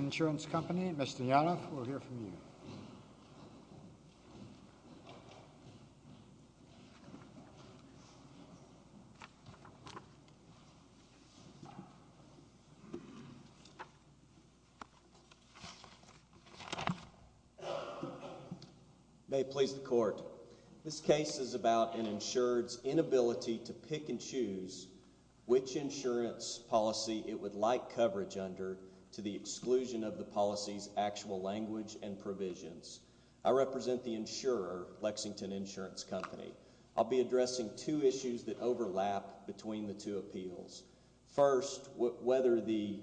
nce Company, Mr. Yanov. We'll hear from you. May it please the Court. This case is about an insurer's inability to pick and choose which insurance policy it would like coverage under to the exclusion of the policy's actual language and provisions. I represent the insurer, Lexington Insurance Company. I'll be addressing two issues that overlap between the two appeals. First, whether the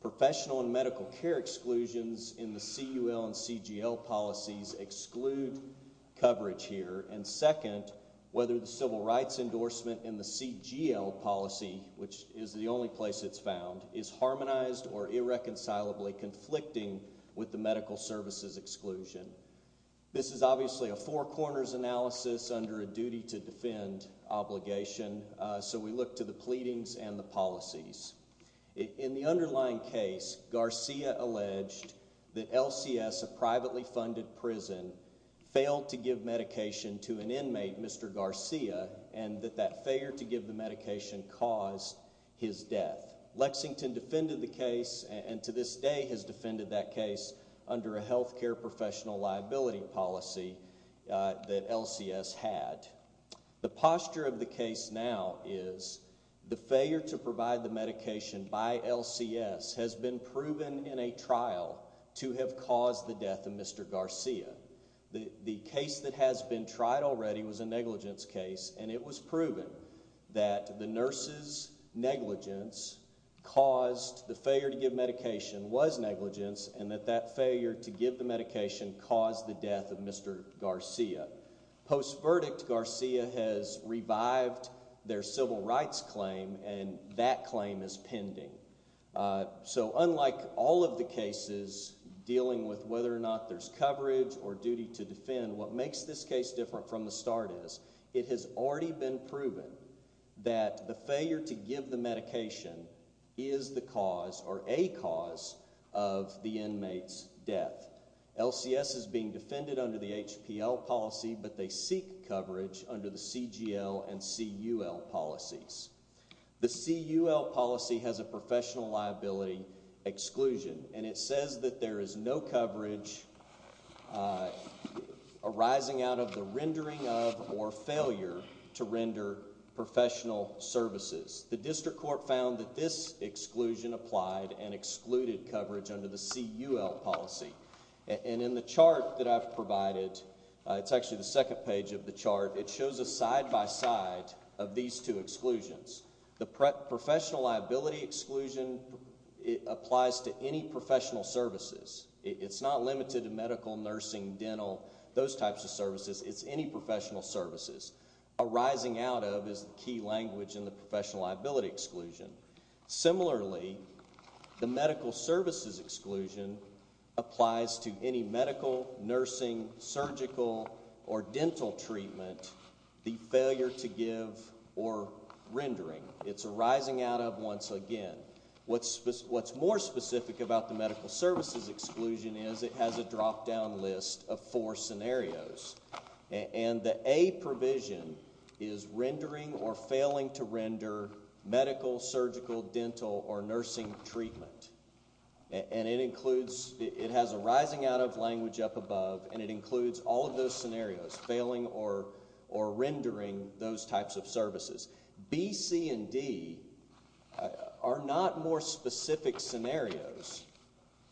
professional and medical care exclusions in the CUL and CGL policies exclude coverage here. And second, whether the civil rights endorsement in the CGL policy, which is the only place it's found, is harmonized or irreconcilably conflicting with the medical services exclusion. This is obviously a four-corners analysis under a duty to defend obligation, so we look to the pleadings and the policies. In the underlying case, Garcia alleged that LCS, a privately funded prison, failed to give medication to an inmate, Mr. Garcia, and that that failure to give the medication caused his death. Lexington defended the case and to this day has defended that case under a health care professional liability policy that LCS had. The posture of the case now is the failure to provide the medication by LCS has been proven in a trial to have caused the death of Mr. Garcia. The case that has been tried already was a negligence case and it was proven that the nurse's negligence caused the failure to give medication was negligence and that that failure to give the medication caused the death of Mr. Garcia. Post-verdict, Garcia has revived their civil rights claim and that claim is pending. So unlike all of the cases dealing with whether or not there's coverage or duty to defend, what makes this case different from the start is it has already been proven that the failure to give the medication is the cause or a cause of the inmate's death. LCS is being defended under the HPL policy but they seek coverage under the CGL and CUL policies. The CUL policy has a professional liability exclusion and it says that there is no coverage arising out of the rendering of or failure to render professional services. The district court found that this exclusion applied and excluded coverage under the CUL policy and in the chart that I've provided, it's actually the second page of the chart, it shows a side by side of these two exclusions. The professional liability exclusion applies to any professional services. It's not limited to medical, nursing, dental, those types of services. It's any professional services. Arising out of is the key language in the professional liability exclusion. Similarly, the medical services exclusion applies to any medical, nursing, surgical, or dental treatment, the failure to give or rendering. It's arising out of once again. What's more specific about the medical services exclusion is it has a drop down list of four scenarios. And the A provision is rendering or failing to render medical, surgical, dental, or nursing treatment. And it includes, it has arising out of language up above and it includes all of those scenarios, failing or rendering those types of services. B, C, and D are not more specific scenarios.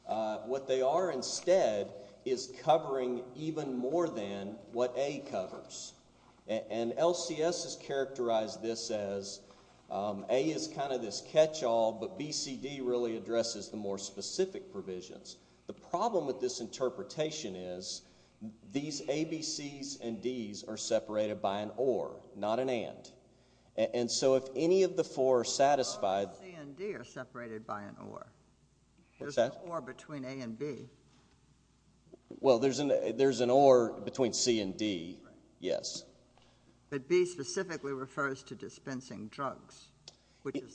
What they are instead is covering even more than what A covers. And LCS has characterized this as A is kind of this catch all, but B, C, D really addresses the more specific provisions. The problem with this interpretation is these A, B, Cs, and Ds are separated by an or, not an and. And so if any of the four are satisfied... How are C and D separated by an or? There's an or between A and B. Well, there's an or between C and D, yes. But B specifically refers to dispensing drugs.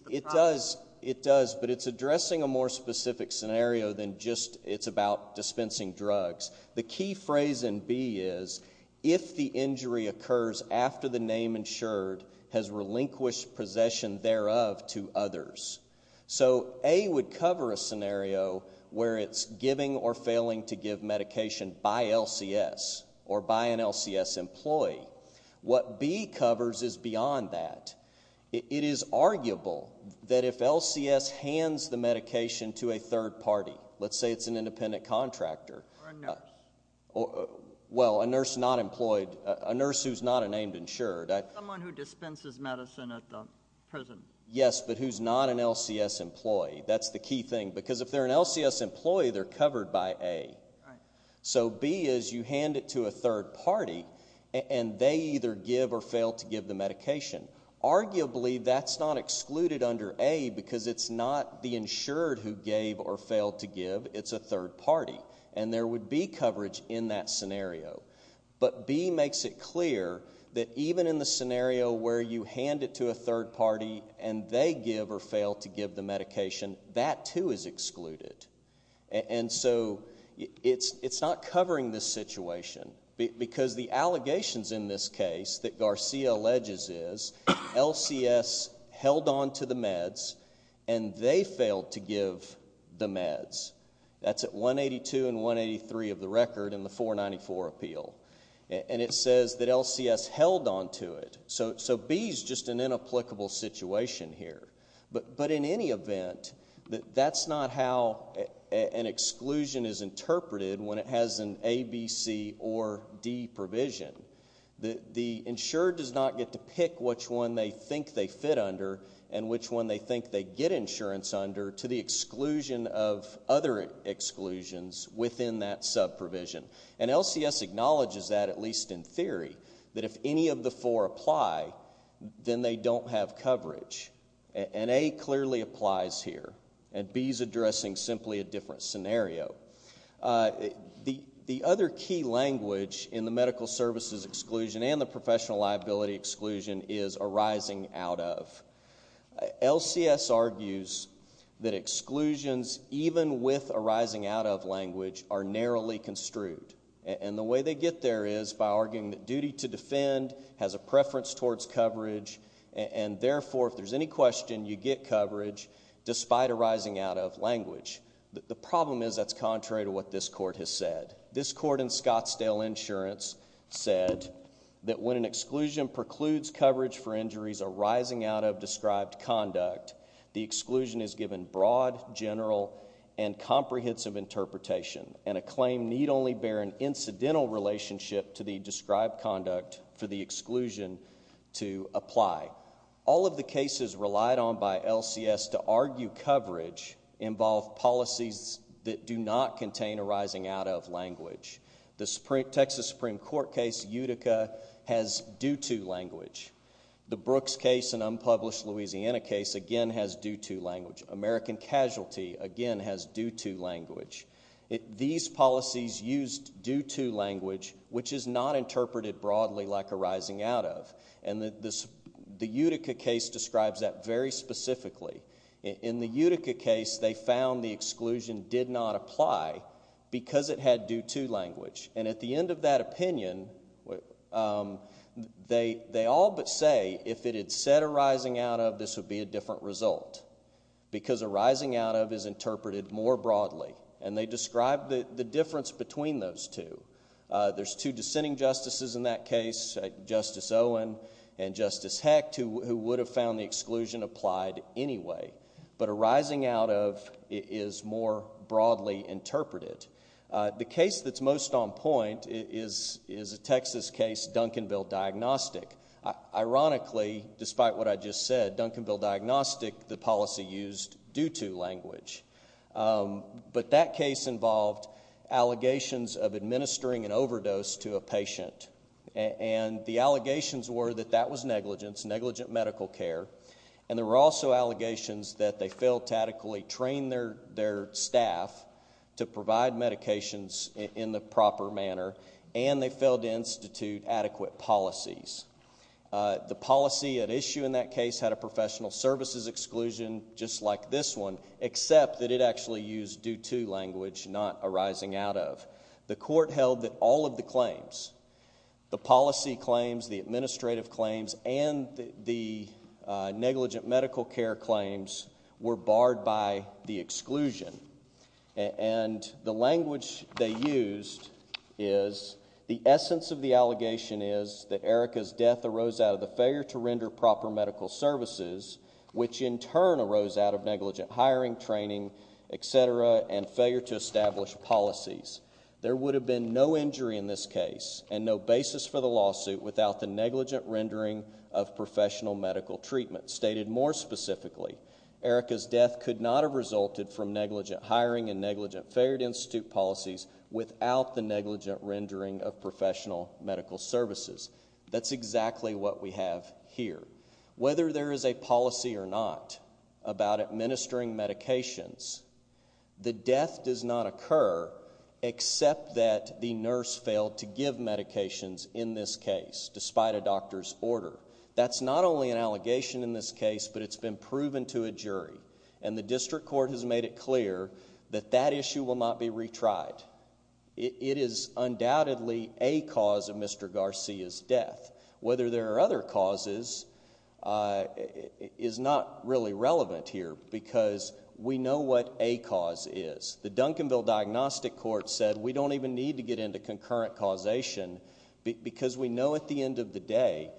It does, but it's not it's addressing a more specific scenario than just it's about dispensing drugs. The key phrase in B is if the injury occurs after the name insured has relinquished possession thereof to others. So A would cover a scenario where it's giving or failing to give medication by LCS or by an LCS employee. What B covers is beyond that. It is arguable that if LCS hands the medication to a third party, let's say it's an independent contractor. Or a nurse. Well, a nurse not employed. A nurse who's not a named insured. Someone who dispenses medicine at the prison. Yes, but who's not an LCS employee. That's the key thing. Because if they're an LCS employee, they're covered by A. So B is you hand it to a third party and they either give or fail to give the medication. Arguably, that's not excluded under A because it's not the insured who gave or failed to give. It's a third party. And there would be coverage in that scenario. But B makes it clear that even in the scenario where you hand it to a third party and they give or fail to give the medication, that too is excluded. And so it's not covering this situation because the allegations in this case that Garcia alleges is, LCS held on to the meds and they failed to give the meds. That's at 182 and 183 of the record in the 494 appeal. And it says that LCS held on to it. So B is just an inapplicable situation here. But in any event, that's not how an exclusion is interpreted when it has an A, B, C, or D provision. The insured does not get to pick which one they think they fit under and which one they think they get insurance under to the exclusion of other exclusions within that subprovision. And LCS acknowledges that, at least in theory, that if any of the four apply, then they don't have coverage. And A clearly applies here. And B is addressing simply a different scenario. The other key language in the medical services exclusion and the professional liability exclusion is arising out of. LCS argues that exclusions even with arising out of language are narrowly construed. And the way they get there is by arguing that duty to defend has a preference towards coverage. And therefore, if there's any question, you get coverage despite arising out of language. The problem is that's contrary to what this court has said. This court in Scottsdale Insurance said that when an exclusion precludes coverage for injuries arising out of described conduct, the exclusion is given broad, general, and comprehensive interpretation. And a claim need only bear an incidental relationship to the described conduct for the exclusion to apply. All of the cases relied on by LCS to argue coverage involve policies that do not contain arising out of language. The Texas Supreme Court case, Utica, has due to language. The Brooks case, an unpublished Louisiana case, again has due to language. American Casualty, again has due to language. These policies used due to language, which is not interpreted broadly like arising out of. And the Utica case describes that very specifically. In the Utica case, they found the exclusion did not apply because it had due to language. And at the end of that opinion, they all but say if it had said arising out of, this would be a different result. Because arising out of is interpreted more broadly. And they describe the difference between those two. There's two dissenting justices in that case, Justice Owen and Justice Hecht, who would have found the exclusion applied anyway. But arising out of is more broadly interpreted. The case that's most on point is a Texas case, Duncanville Diagnostic. Ironically, despite what I just said, Duncanville Diagnostic, the policy used due to language. But that case involved allegations of administering an overdose to a patient. And the allegations were that that was negligence, negligent medical care. And there were also allegations that they failed to adequately train their staff to provide medications in the proper manner. And they failed to institute adequate policies. The policy at issue in that case had a professional services exclusion just like this one, except that it actually used due to language, not arising out of. The court held that all of the claims, the policy claims, the administrative claims, and the negligent medical care claims were barred by the exclusion. And the language they used is, the essence of the allegation is that Erica's death arose out of the failure to render proper medical services, which in turn arose out of negligent hiring, training, et cetera, and failure to establish policies. There would have been no injury in this case and no basis for the lawsuit without the negligent rendering of professional medical treatment. Stated more specifically, Erica's death could not have resulted from negligent hiring and policies without the negligent rendering of professional medical services. That's exactly what we have here. Whether there is a policy or not about administering medications, the death does not occur except that the nurse failed to give medications in this case, despite a doctor's order. That's not only an allegation in this case, but it's been proven to a jury. And the district court has made it clear that that issue will not be retried. It is undoubtedly a cause of Mr. Garcia's death. Whether there are other causes is not really relevant here because we know what a cause is. The Duncanville Diagnostic Court said we don't even need to get into concurrent causation because we know at the end of the day,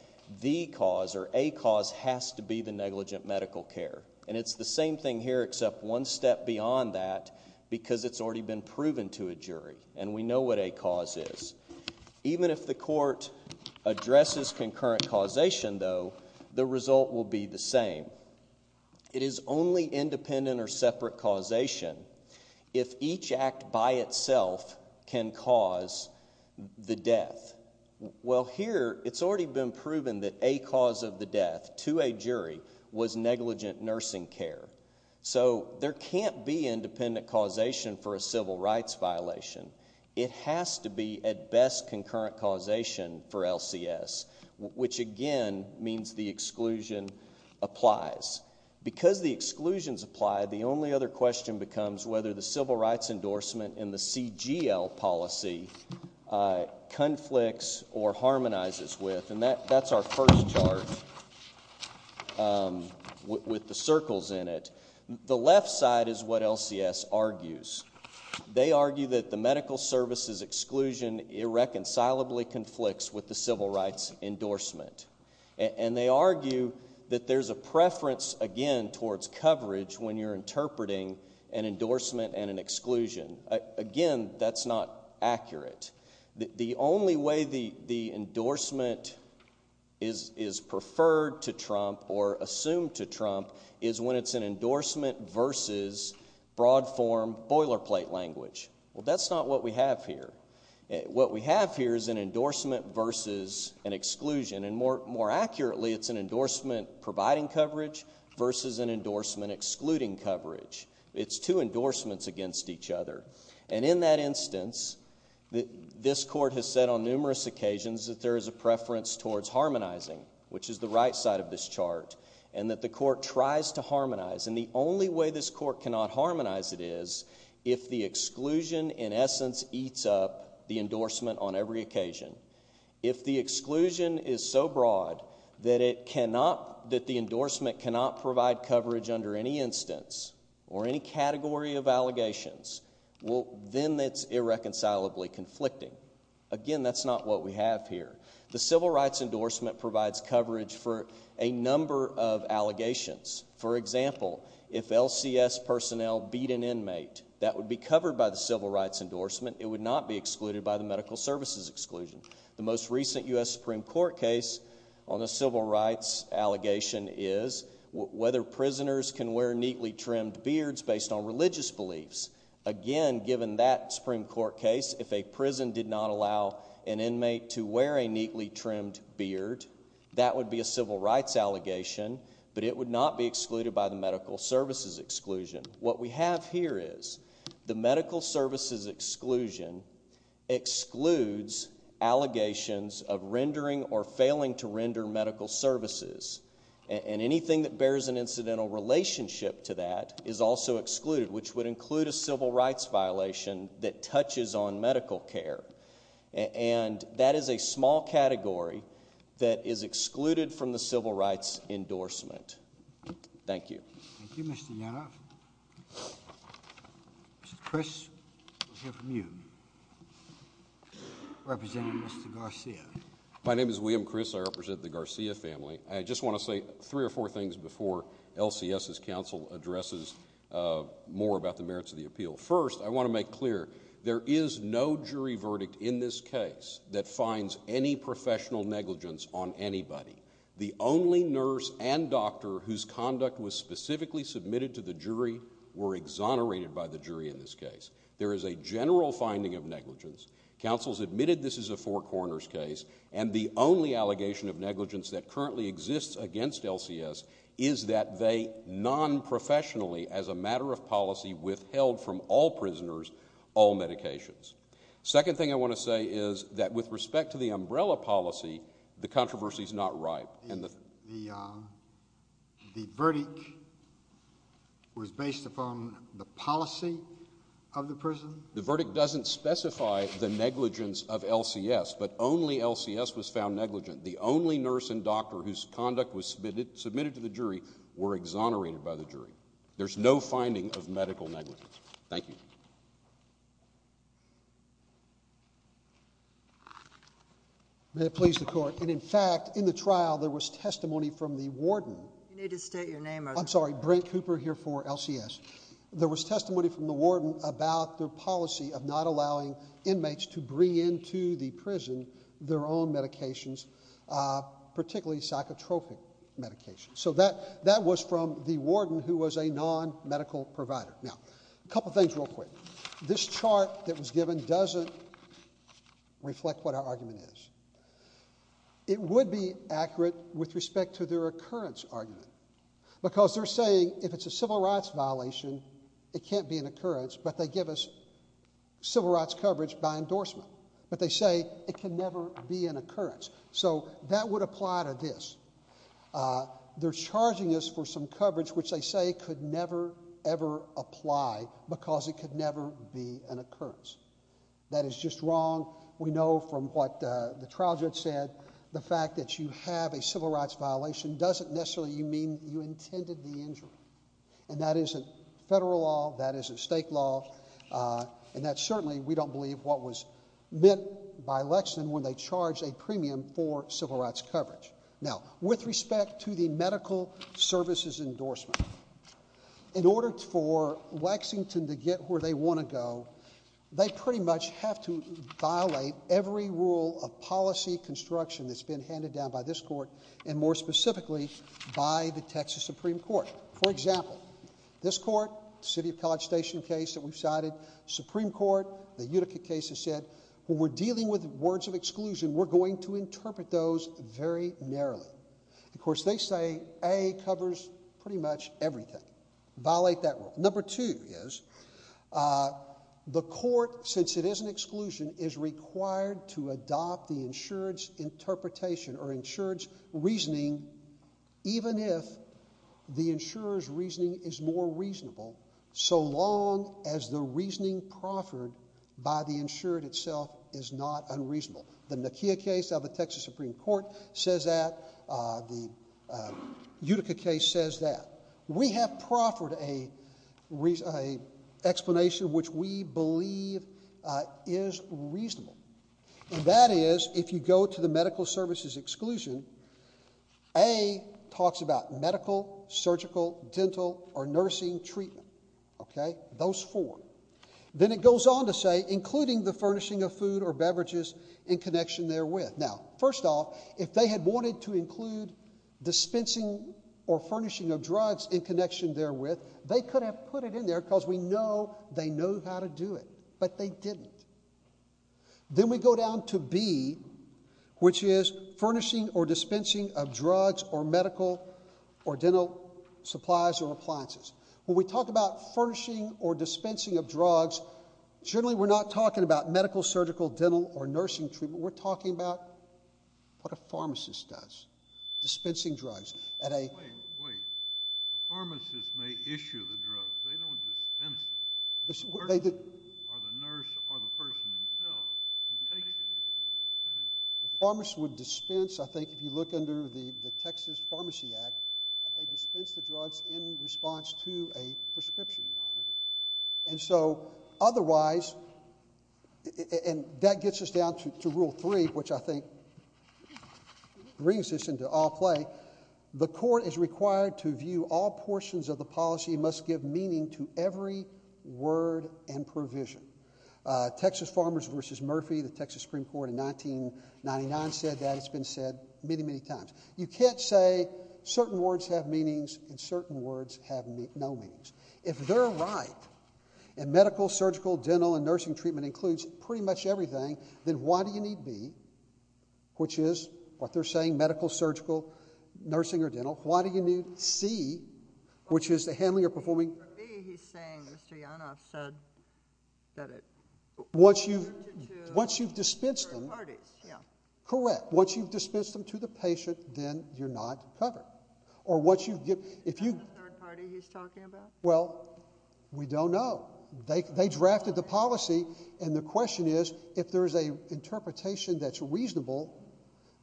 the cause or a cause has to be the negligent medical care. And it's the same thing here except one step beyond that because it's already been proven to a jury and we know what a cause is. Even if the court addresses concurrent causation though, the result will be the same. It is only independent or separate causation if each act by itself can cause the death. Well here, it's already been proven that a cause of the death to a jury was negligent nursing care. So there can't be independent causation for a civil rights violation. It has to be at best concurrent causation for LCS, which again means the exclusion applies. Because the exclusions apply, the only other question becomes whether the civil rights endorsement in the CGL policy conflicts or harmonizes with, and that's our first chart with the circles in it. The left side is what LCS argues. They argue that the medical services exclusion irreconcilably conflicts with the civil rights endorsement. And they argue that there's a preference again towards coverage when you're interpreting an endorsement and an exclusion. Again, that's not accurate. The only way the endorsement is preferred to Trump or assumed to Trump is when it's an endorsement versus broad form boilerplate language. Well that's not what we have here. What we have here is an endorsement versus an exclusion. And more accurately, it's an endorsement providing coverage versus an endorsement excluding coverage. It's two endorsements against each other. And in that instance, this court has said on numerous occasions that there is a preference towards harmonizing, which is the right side of this chart, and that the court tries to harmonize. And the only way this court cannot harmonize it is if the exclusion in essence eats up the endorsement on every occasion. If the exclusion is so broad that it cannot, that the endorsement cannot provide coverage under any instance or any category of allegations, well then it's irreconcilably conflicting. Again, that's not what we have here. The civil rights endorsement provides coverage for a number of allegations. For example, if LCS personnel beat an inmate, that would be covered by the civil rights endorsement. It would not be excluded by the medical services exclusion. The most recent U.S. Supreme Court case on the civil rights allegation is whether prisoners can wear neatly trimmed beards based on religious beliefs. Again, given that Supreme Court case, if a prison did not allow an inmate to wear a neatly trimmed beard, that would be a civil rights allegation, but it would not be excluded by the medical services exclusion. What we have here is the medical services exclusion excludes allegations of rendering or failing to render medical services. Anything that bears an incidental relationship to that is also excluded, which would include a civil rights violation that touches on medical care. That is a small category that is excluded from the civil rights endorsement. Thank you. Thank you, Mr. Yanoff. Mr. Chris, we'll hear from you. Representing Mr. Garcia. My name is William Chris. I represent the Garcia family. I just want to say three or four things before LCS's counsel addresses more about the merits of the appeal. First, I want to make clear, there is no jury verdict in this case that finds any professional negligence on anybody. The only nurse and doctor whose conduct was specifically submitted to the jury were exonerated by the jury in this case. There is a general finding of negligence. Counsel's admitted this is a four corners case, and the only allegation of negligence that currently exists against LCS is that they non-professionally, as a matter of policy, withheld from all prisoners all medications. Second thing I want to say is that with respect to the umbrella policy, the controversy is not ripe. The verdict was based upon the policy of the prison? The verdict doesn't specify the negligence of LCS, but only LCS was found negligent. The only nurse and doctor whose conduct was submitted to the jury were exonerated by the jury. There's no finding of medical negligence. Thank you. May it please the court. And in fact, in the trial, there was testimony from the warden. You need to state your name, Arthur. I'm sorry. Brent Cooper here for LCS. There was testimony from the warden about their policy of not allowing inmates to bring into the prison their own medications, particularly psychotropic medications. So that was from the warden who was a non-medical provider. Now, a couple things real quick. This chart that was given doesn't reflect what our argument is. It would be accurate with respect to their occurrence argument, because they're saying if it's a civil rights violation, it can't be an occurrence, but they give us civil rights coverage by endorsement. But they say it can never be an occurrence. So that would apply to this. They're charging us for some coverage which they say could never ever apply because it could never be an occurrence. That is just wrong. We know from what the trial judge said the fact that you have a civil rights violation doesn't necessarily mean that you intended the injury. And that isn't federal law. That isn't state law. And that's certainly we don't believe what was meant by Lexington when they charged a premium for civil rights coverage. Now, with respect to the medical services endorsement, in order for Lexington to get where they want to go, they pretty much have to violate every rule of policy construction that's been handed down by this court, and more specifically by the Texas Supreme Court. For example, this court, City of College Station case that we've cited, Supreme Court, the Utica case has said, when we're dealing with words of exclusion, we're going to interpret those very narrowly. Of course, they say A covers pretty much everything. Violate that rule. Number two is the court, since it is an exclusion, is required to adopt the insurance interpretation or insurance reasoning, even if the insurer's reasoning is more reasonable, so long as the reasoning proffered by the insurer itself is not unreasonable. The Nakia case of the Texas Supreme Court says that. The Utica case says that. We have proffered an explanation which we believe is reasonable. And that is, if you go to the medical services exclusion, A talks about medical, surgical, dental, or nursing treatment. Okay? Those four. Then it goes on to say, including the furnishing of food or beverages in connection therewith. Now, first off, if they had wanted to include dispensing or furnishing of drugs in connection therewith, they could have put it in there because we know they know how to do it, but they didn't. Then we go down to B, which is furnishing or dispensing of drugs or medical or dental supplies or appliances. When we talk about furnishing or dispensing of drugs, generally we're not talking about medical, surgical, dental, or nursing treatment. We're talking about what a pharmacist does, dispensing drugs at a... The pharmacist would dispense, I think, if you look under the Texas Pharmacy Act, they dispense the drugs in response to a prescription. And so, otherwise, and that gets us down to Rule 3, which I think brings this into all play. The court is required to view all portions of the policy must give meaning to every word and provision. Texas Farmers v. Murphy, the Texas Supreme Court in 1999 said that. It's been said many, many times. You can't say certain words have meanings and certain words have no meanings. If they're right, and medical, surgical, dental, and nursing treatment includes pretty much everything, then why do you need B, which is what they're saying, medical, surgical, nursing, or dental? Why do you need C, which is the handling or performing... For me, he's saying Mr. Yanov said that it... Once you've dispensed them... Third parties, yeah. Correct. Once you've dispensed them to the patient, then you're not covered. Or what you... Is that the third party he's talking about? Well, we don't know. They drafted the policy, and the question is, if there's an interpretation that's reasonable,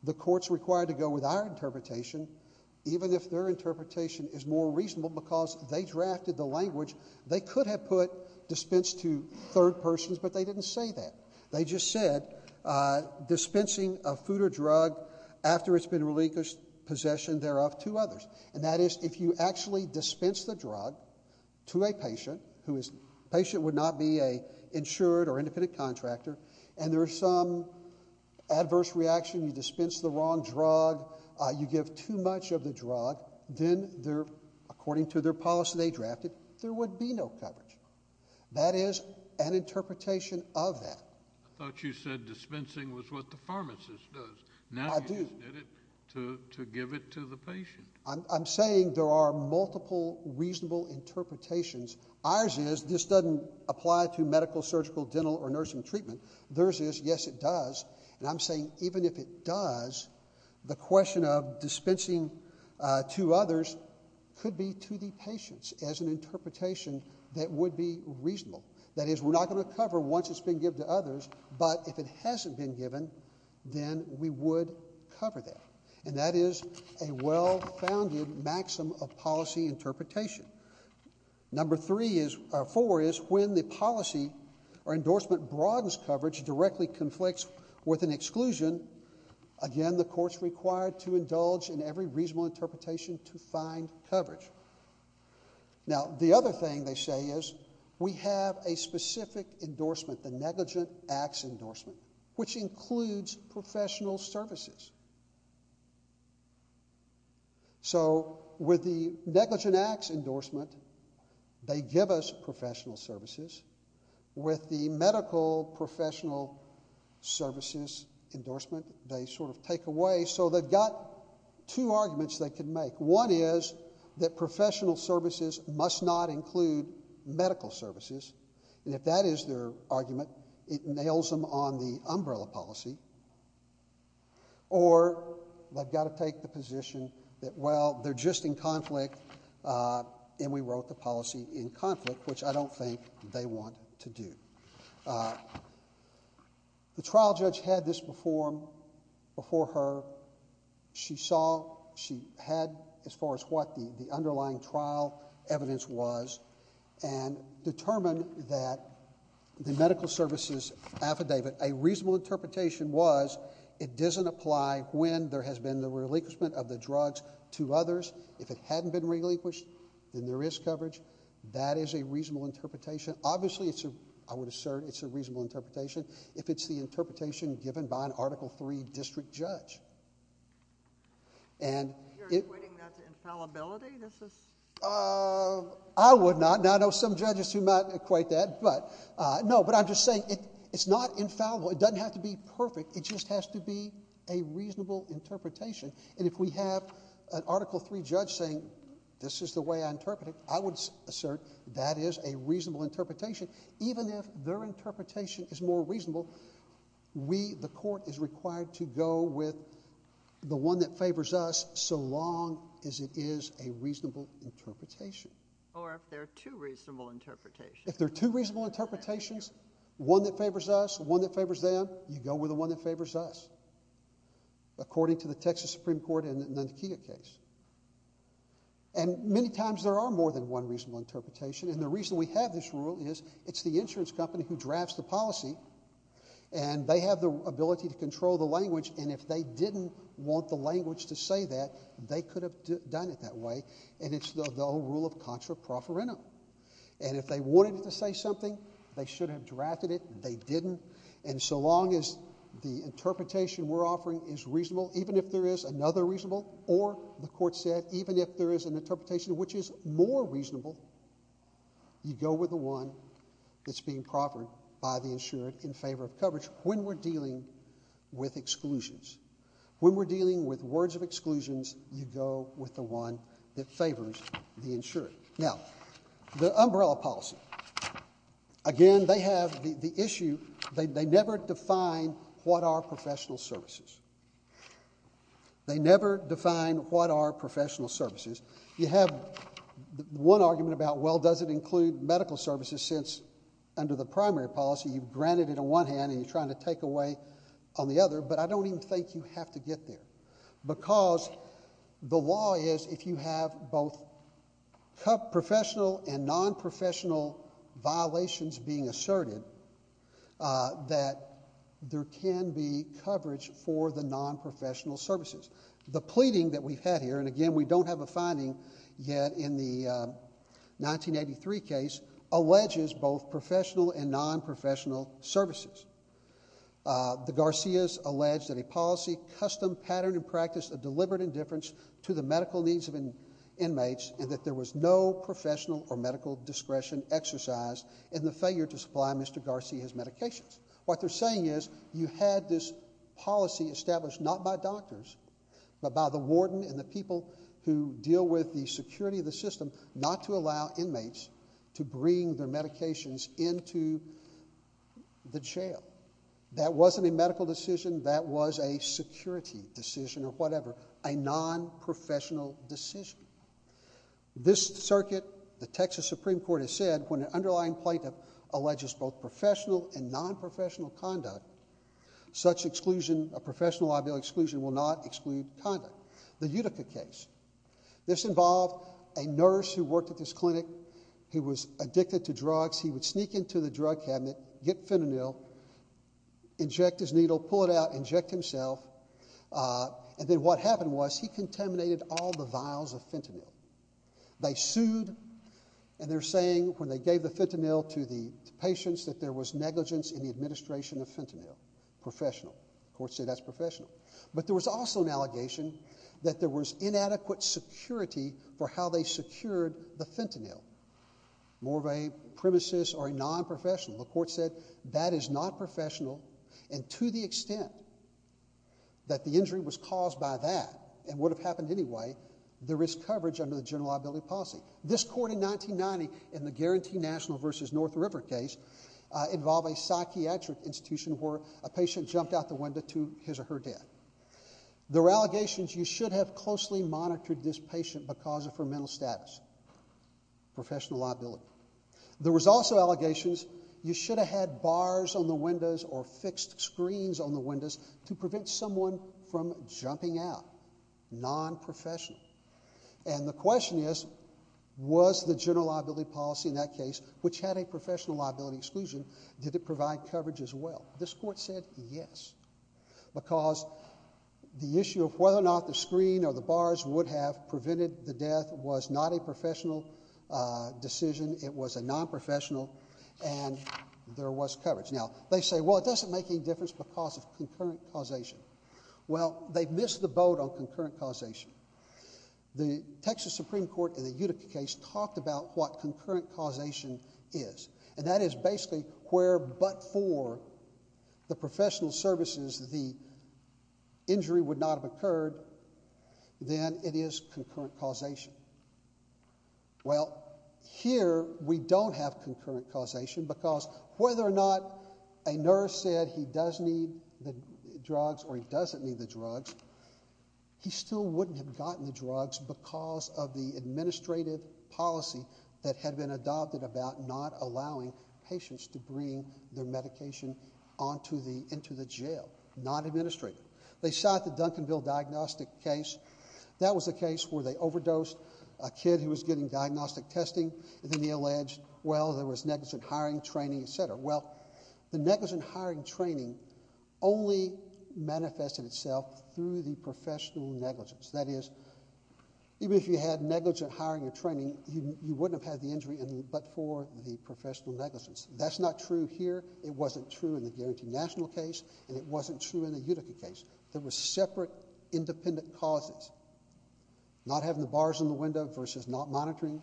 the court's required to go with our interpretation, even if their interpretation is more reasonable because they drafted the language. They could have put dispense to third persons, but they didn't say that. They just said dispensing a food or drug after it's been relinquished possession thereof to others. And that is, if you actually dispense the drug to a patient who is... The patient would not be an insured or independent contractor, and there's some adverse reaction, you dispense the wrong drug, you give too much of the drug, then they're... According to their policy they drafted, there would be no coverage. That is an interpretation of that. I thought you said dispensing was what the pharmacist does. I do. Now you just did it to give it to the patient. I'm saying there are multiple reasonable interpretations. Ours is, this doesn't apply to medical, surgical, dental, or nursing treatment. Theirs is, yes it does, and I'm saying even if it does, the question of dispensing to others could be to the patients as an interpretation that would be reasonable. That is, we're not going to cover once it's been given to others, but if it hasn't been given, then we would cover that. And that is a well-founded maxim of policy interpretation. Number four is, when the policy or endorsement broadens coverage, directly conflicts with an exclusion, again the court's required to indulge in every reasonable interpretation to find coverage. Now, the other thing they say is, we have a specific endorsement, the negligent acts endorsement, which includes professional services. So, with the negligent acts endorsement, they give us professional services. With the medical professional services endorsement, they sort of take away, so they've got two arguments they can make. One is that professional services must not include medical services, and if that is their argument, it nails them on the umbrella policy. Or, they've got to take the position that, well, they're just in conflict, and we wrote the policy in conflict, which I don't think they want to do. The trial judge had this before her. She saw, she had as far as what the underlying trial evidence was, and determined that the medical services affidavit, a reasonable interpretation was, it doesn't apply when there has been the relinquishment of the drugs to others. If it hadn't been relinquished, then there is coverage. That is a reasonable interpretation. Obviously, I would assert it's a reasonable interpretation, if it's the interpretation given by an Article III district judge. You're equating that to infallibility? I would not, and I know some judges who might equate that, but no. I'm just saying it's not infallible. It doesn't have to be perfect. It just has to be a reasonable interpretation. If we have an Article III judge saying, this is the way I interpret it, I would assert that is a reasonable interpretation. Even if their interpretation is more reasonable, we, the court, is required to go with the one that favors us, so long as it is a reasonable interpretation. Or if there are two reasonable interpretations. If there are two reasonable interpretations, one that favors us, one that favors them, you go with the one that favors us, according to the Texas Supreme Court and the Nakia case. Many times, there are more than one reasonable interpretation. The reason we have this rule is, it's the insurance company who drafts the policy, and they have the ability to control the language, and if they didn't want the language to say that, they could have done it that way, and it's the old rule of contra pro foreno. And if they wanted it to say something, they should have drafted it, they didn't, and so long as the interpretation we're offering is reasonable, even if there is another reasonable, or the court said, even if there is an interpretation which is more reasonable, you go with the one that's being proffered by the insured in favor of coverage, when we're dealing with exclusions. When we're dealing with words of exclusions, you go with the one that favors the insured. Now, the umbrella policy. Again, they have the issue, they never define what are professional services. You have one argument about, well, does it include medical services, since under the primary policy, you've granted it on one hand, and you're trying to take away on the other, but I don't even think you have to get there, because the law is, if you have both professional and non-professional violations being asserted, that there can be coverage for the non-professional services. The pleading that we've had here, and again, we don't have a finding yet in the 1983 case, alleges both professional and non-professional services. The Garcias allege that a policy custom pattern and practice of deliberate indifference to the medical needs of inmates, and that there was no professional or medical discretion exercised in the failure to supply Mr. Garcia's medications. What they're saying is, you had this policy established not by doctors, but by the warden and the people who deal with the security of the system, not to allow inmates to bring their medications into the jail. That wasn't a medical decision, that was a security decision or whatever, a non-professional decision. This circuit, the Texas Supreme Court has said, when an underlying plaintiff alleges both professional and non-professional conduct, such exclusion, a professional liability exclusion will not exclude conduct. The Utica case, this involved a nurse who worked at this clinic, he was addicted to drugs, he would sneak into the drug cabinet, get fentanyl, inject his needle, pull it out, inject himself, and then what happened was, he contaminated all the vials of fentanyl. They sued, and they're saying when they gave the fentanyl to the patients that there was negligence in the administration of fentanyl, professional. The court said that's professional. But there was also an allegation that there was inadequate security for how they secured the fentanyl, more of a premises or a non-professional. The court said that is not professional, and to the extent that the injury was caused by that, and would have happened anyway, there is coverage under the general liability policy. This court in 1990, in the Guarantee National v. North River case, involved a psychiatric institution where a patient jumped out the window to his or her death. There were allegations you should have closely monitored this patient because of her mental status, professional liability. There was also allegations you should have had bars on the windows or fixed screens on the windows to prevent someone from jumping out, non-professional. And the question is, was the general liability policy in that case, which had a professional liability exclusion, did it provide coverage as well? This court said yes, because the issue of whether or not the screen or the bars would have prevented the death was not a professional decision. It was a non-professional, and there was coverage. Now, they say, well, it doesn't make any difference because of concurrent causation. Well, they missed the boat on concurrent causation. The Texas Supreme Court in the Utica case talked about what concurrent causation is, and that is basically where but for the professional services, the injury would not have occurred, then it is concurrent causation. Well, here, we don't have concurrent causation because whether or not a nurse said he does need the drugs or he doesn't need the drugs, he still wouldn't have gotten the drugs because of the administrative policy that had been adopted about not allowing patients to bring their medication into the jail, not administrative. They shot the Duncanville diagnostic case. That was a case where they overdosed a kid who was getting diagnostic testing, and then they alleged, well, there was negligent hiring, training, et cetera. Well, the negligent hiring and training only manifested itself through the professional negligence. That is, even if you had negligent hiring and training, you wouldn't have had the injury but for the professional negligence. That's not true here. It wasn't true in the Guaranteed National case, and it wasn't true in the Utica case. There were separate independent causes, not having the bars in the window versus not monitoring,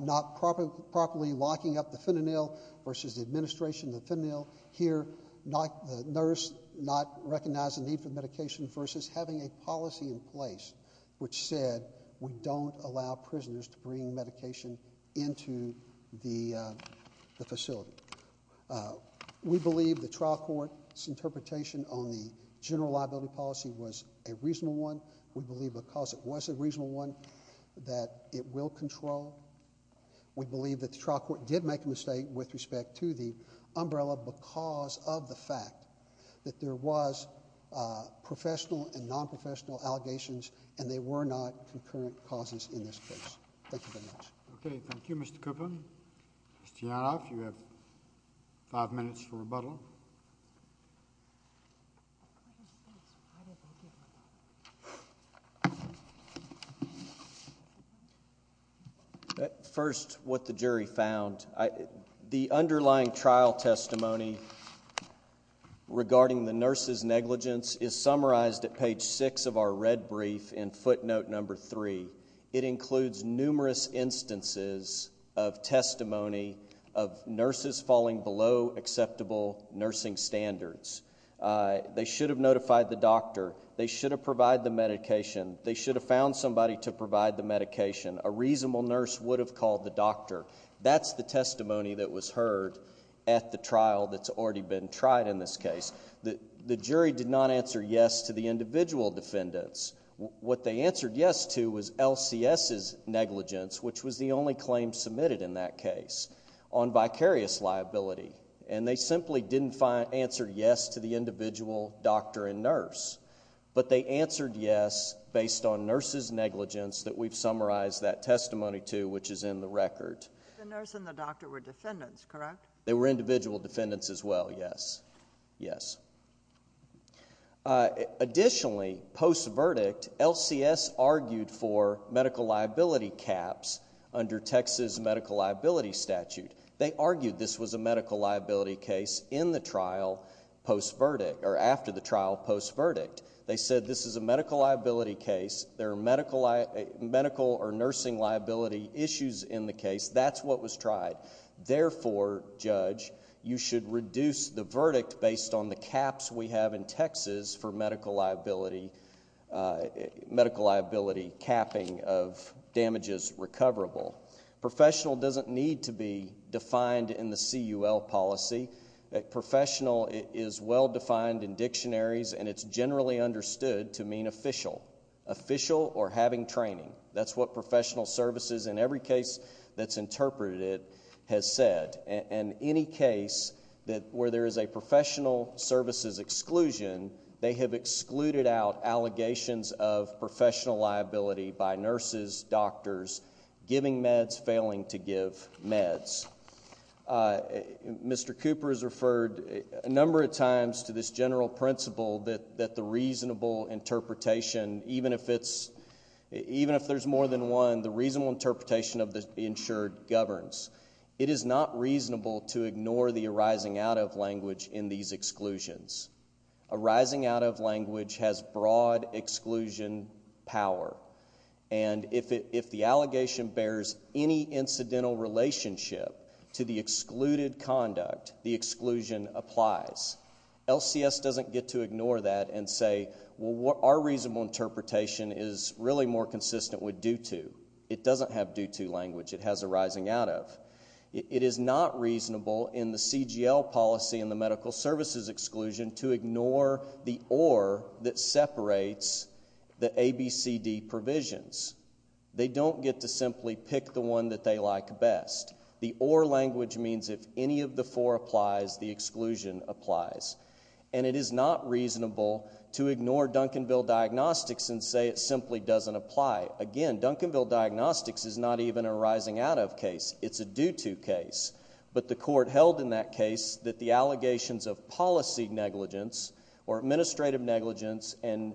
not properly locking up the fentanyl versus the administration of the fentanyl. Here, the nurse not recognizing the need for medication versus having a policy in place which said we don't allow prisoners to bring medication into the facility. We believe the trial court's interpretation on the general liability policy was a reasonable one. We believe because it was a reasonable one that it will control. We believe that the trial court did make a mistake with respect to the umbrella because of the fact that there was professional and nonprofessional allegations, and they were not concurrent causes in this case. Thank you very much. Okay. Thank you, Mr. Koopman. Mr. Yanov, you have five minutes to rebuttal. First, what the jury found. The underlying trial testimony regarding the nurse's negligence is summarized at page 6 of our red brief in footnote number 3. It includes numerous instances of testimony of nurses falling below acceptable nursing standards. They should have notified the doctor. They should have provided the medication. They should have found somebody to provide the medication. A reasonable nurse would have called the doctor. That's the testimony that was heard at the trial that's already been tried in this case. The jury did not answer yes to the individual defendants. What they answered yes to was LCS's negligence, which was the only claim submitted in that case, on vicarious liability, and they simply didn't answer yes to the individual doctor and nurse, but they answered yes based on nurse's negligence that we've summarized that testimony to, which is in the record. The nurse and the doctor were defendants, correct? They were individual defendants as well, yes. Yes. Additionally, post-verdict, LCS argued for medical liability caps under Texas medical liability statute. They argued this was a medical liability case in the trial post-verdict or after the trial post-verdict. They said this is a medical liability case. There are medical or nursing liability issues in the case. That's what was tried. Therefore, Judge, you should reduce the verdict based on the caps we have in Texas for medical liability, medical liability capping of damages recoverable. Professional doesn't need to be defined in the CUL policy. Professional is well-defined in dictionaries, and it's generally understood to mean official, official or having training. That's what professional services in every case that's interpreted has said. In any case where there is a professional services exclusion, they have excluded out allegations of professional liability by nurses, doctors, giving meds, failing to give meds. Mr. Cooper has referred a number of times to this general principle that the reasonable interpretation, even if there's more than one, the reasonable interpretation of the insured governs. It is not reasonable to ignore the arising out of language in these exclusions. Arising out of language has broad exclusion power, and if the allegation bears any incidental relationship to the excluded conduct, the exclusion applies. LCS doesn't get to ignore that and say, well, our reasonable interpretation is really more consistent with due to. It doesn't have due to language. It has arising out of. It is not reasonable in the CGL policy and the medical services exclusion to ignore the or that separates the ABCD provisions. They don't get to simply pick the one that they like best. The or language means if any of the four applies, the exclusion applies, and it is not reasonable to ignore Duncanville Diagnostics and say it simply doesn't apply. Again, Duncanville Diagnostics is not even a rising out of case. It's a due to case, but the court held in that case that the allegations of policy negligence or administrative negligence and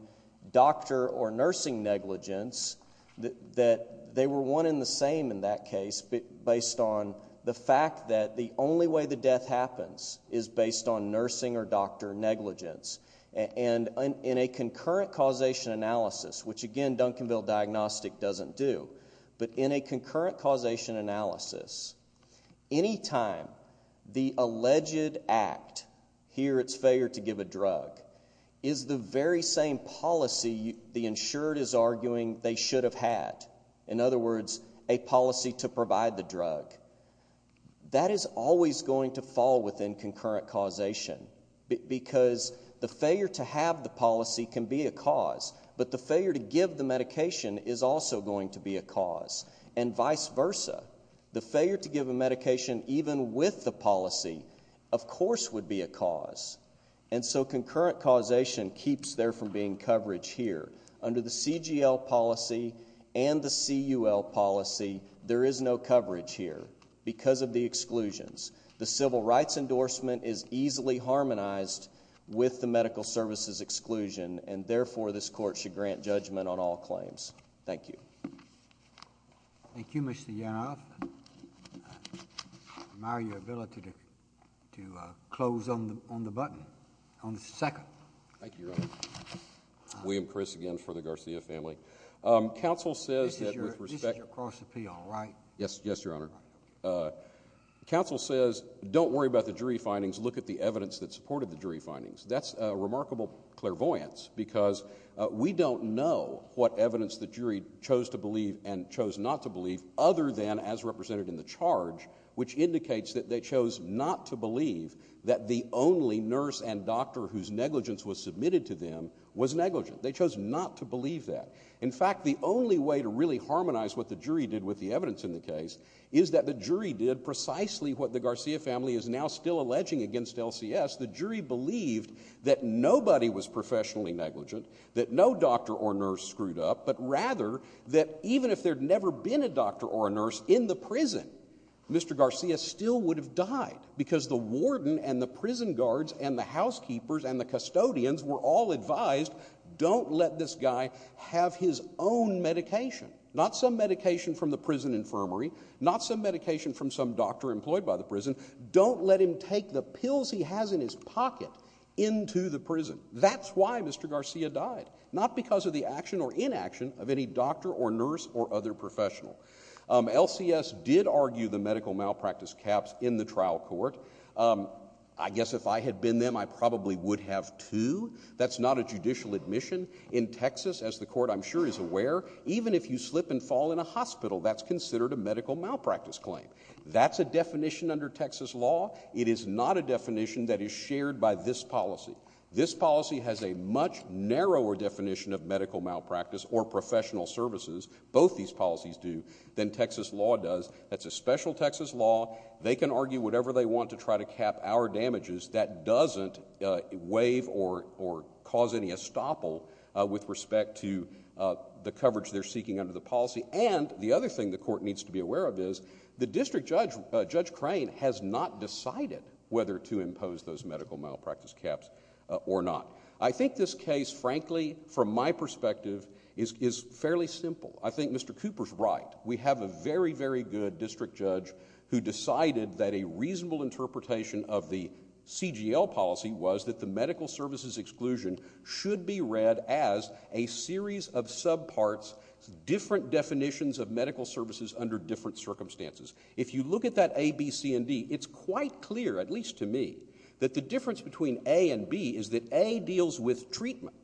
doctor or nursing negligence, that they were one and the same in that case based on the fact that the only way the death happens is based on nursing or doctor negligence. And in a concurrent causation analysis, which, again, Duncanville Diagnostic doesn't do, but in a concurrent causation analysis, anytime the alleged act, here it's failure to give a drug, is the very same policy the insured is arguing they should have had, in other words, a policy to provide the drug, that is always going to fall within concurrent causation because the failure to have the policy can be a cause, but the failure to give the medication is also going to be a cause, and vice versa. The failure to give a medication even with the policy, of course, would be a cause. And so concurrent causation keeps there from being coverage here. Under the CGL policy and the CUL policy, there is no coverage here because of the exclusions. The civil rights endorsement is easily harmonized with the medical services exclusion, and therefore this court should grant judgment on all claims. Thank you. Thank you, Mr. Yanov. I admire your ability to close on the button, on the second. Thank you, Your Honor. William Chris again for the Garcia family. This is your cross appeal, right? Yes, Your Honor. The counsel says don't worry about the jury findings, look at the evidence that supported the jury findings. That's a remarkable clairvoyance because we don't know what evidence the jury chose to believe and chose not to believe other than as represented in the charge, which indicates that they chose not to believe that the only nurse and doctor whose negligence was submitted to them was negligent. They chose not to believe that. In fact, the only way to really harmonize what the jury did with the evidence in the case is that the jury did precisely what the Garcia family is now still alleging against LCS. The jury believed that nobody was professionally negligent, that no doctor or nurse screwed up, but rather that even if there had never been a doctor or a nurse in the prison, Mr. Garcia still would have died because the warden and the prison guards and the housekeepers and the custodians were all advised don't let this guy have his own medication, not some medication from the prison infirmary, not some medication from some doctor employed by the prison. Don't let him take the pills he has in his pocket into the prison. That's why Mr. Garcia died, not because of the action or inaction of any doctor or nurse or other professional. LCS did argue the medical malpractice caps in the trial court. I guess if I had been them, I probably would have too. That's not a judicial admission. In Texas, as the court I'm sure is aware, even if you slip and fall in a hospital, that's considered a medical malpractice claim. That's a definition under Texas law. It is not a definition that is shared by this policy. This policy has a much narrower definition of medical malpractice or professional services, both these policies do, than Texas law does. That's a special Texas law. They can argue whatever they want to try to cap our damages. That doesn't waive or cause any estoppel with respect to the coverage they're seeking under the policy. And the other thing the court needs to be aware of is the district judge, Judge Crane, has not decided whether to impose those medical malpractice caps or not. I think this case, frankly, from my perspective, is fairly simple. I think Mr. Cooper's right. We have a very, very good district judge who decided that a reasonable interpretation of the CGL policy was that the medical services exclusion should be read as a series of subparts, different definitions of medical services under different circumstances. If you look at that A, B, C, and D, it's quite clear, at least to me, that the difference between A and B is that A deals with treatment,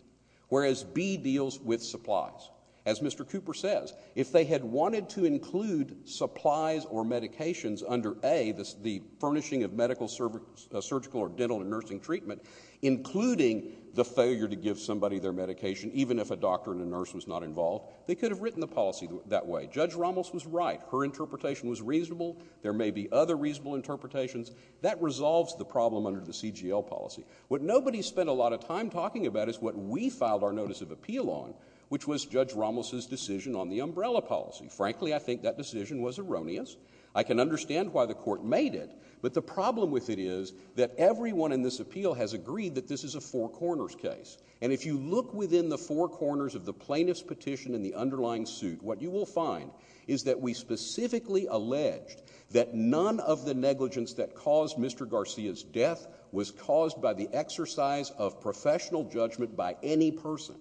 whereas B deals with supplies. As Mr. Cooper says, if they had wanted to include supplies or medications under A, the furnishing of medical, surgical, or dental and nursing treatment, including the failure to give somebody their medication, even if a doctor and a nurse was not involved, they could have written the policy that way. Judge Ramos was right. Her interpretation was reasonable. There may be other reasonable interpretations. That resolves the problem under the CGL policy. What nobody spent a lot of time talking about is what we filed our notice of appeal on, which was Judge Ramos's decision on the umbrella policy. Frankly, I think that decision was erroneous. I can understand why the Court made it, but the problem with it is that everyone in this appeal has agreed that this is a four corners case. And if you look within the four corners of the plaintiff's petition in the underlying suit, what you will find is that we specifically alleged that none of the negligence that caused Mr. Garcia's death was caused by the exercise of professional judgment by any person.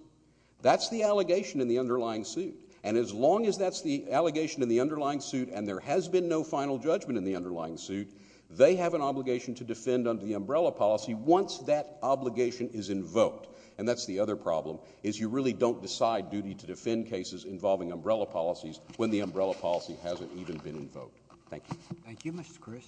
That's the allegation in the underlying suit. And as long as that's the allegation in the underlying suit and there has been no final judgment in the underlying suit, they have an obligation to defend under the umbrella policy once that obligation is invoked. And that's the other problem, is you really don't decide duty to defend cases involving umbrella policies when the umbrella policy hasn't even been invoked. Thank you. Thank you, Mr. Chris.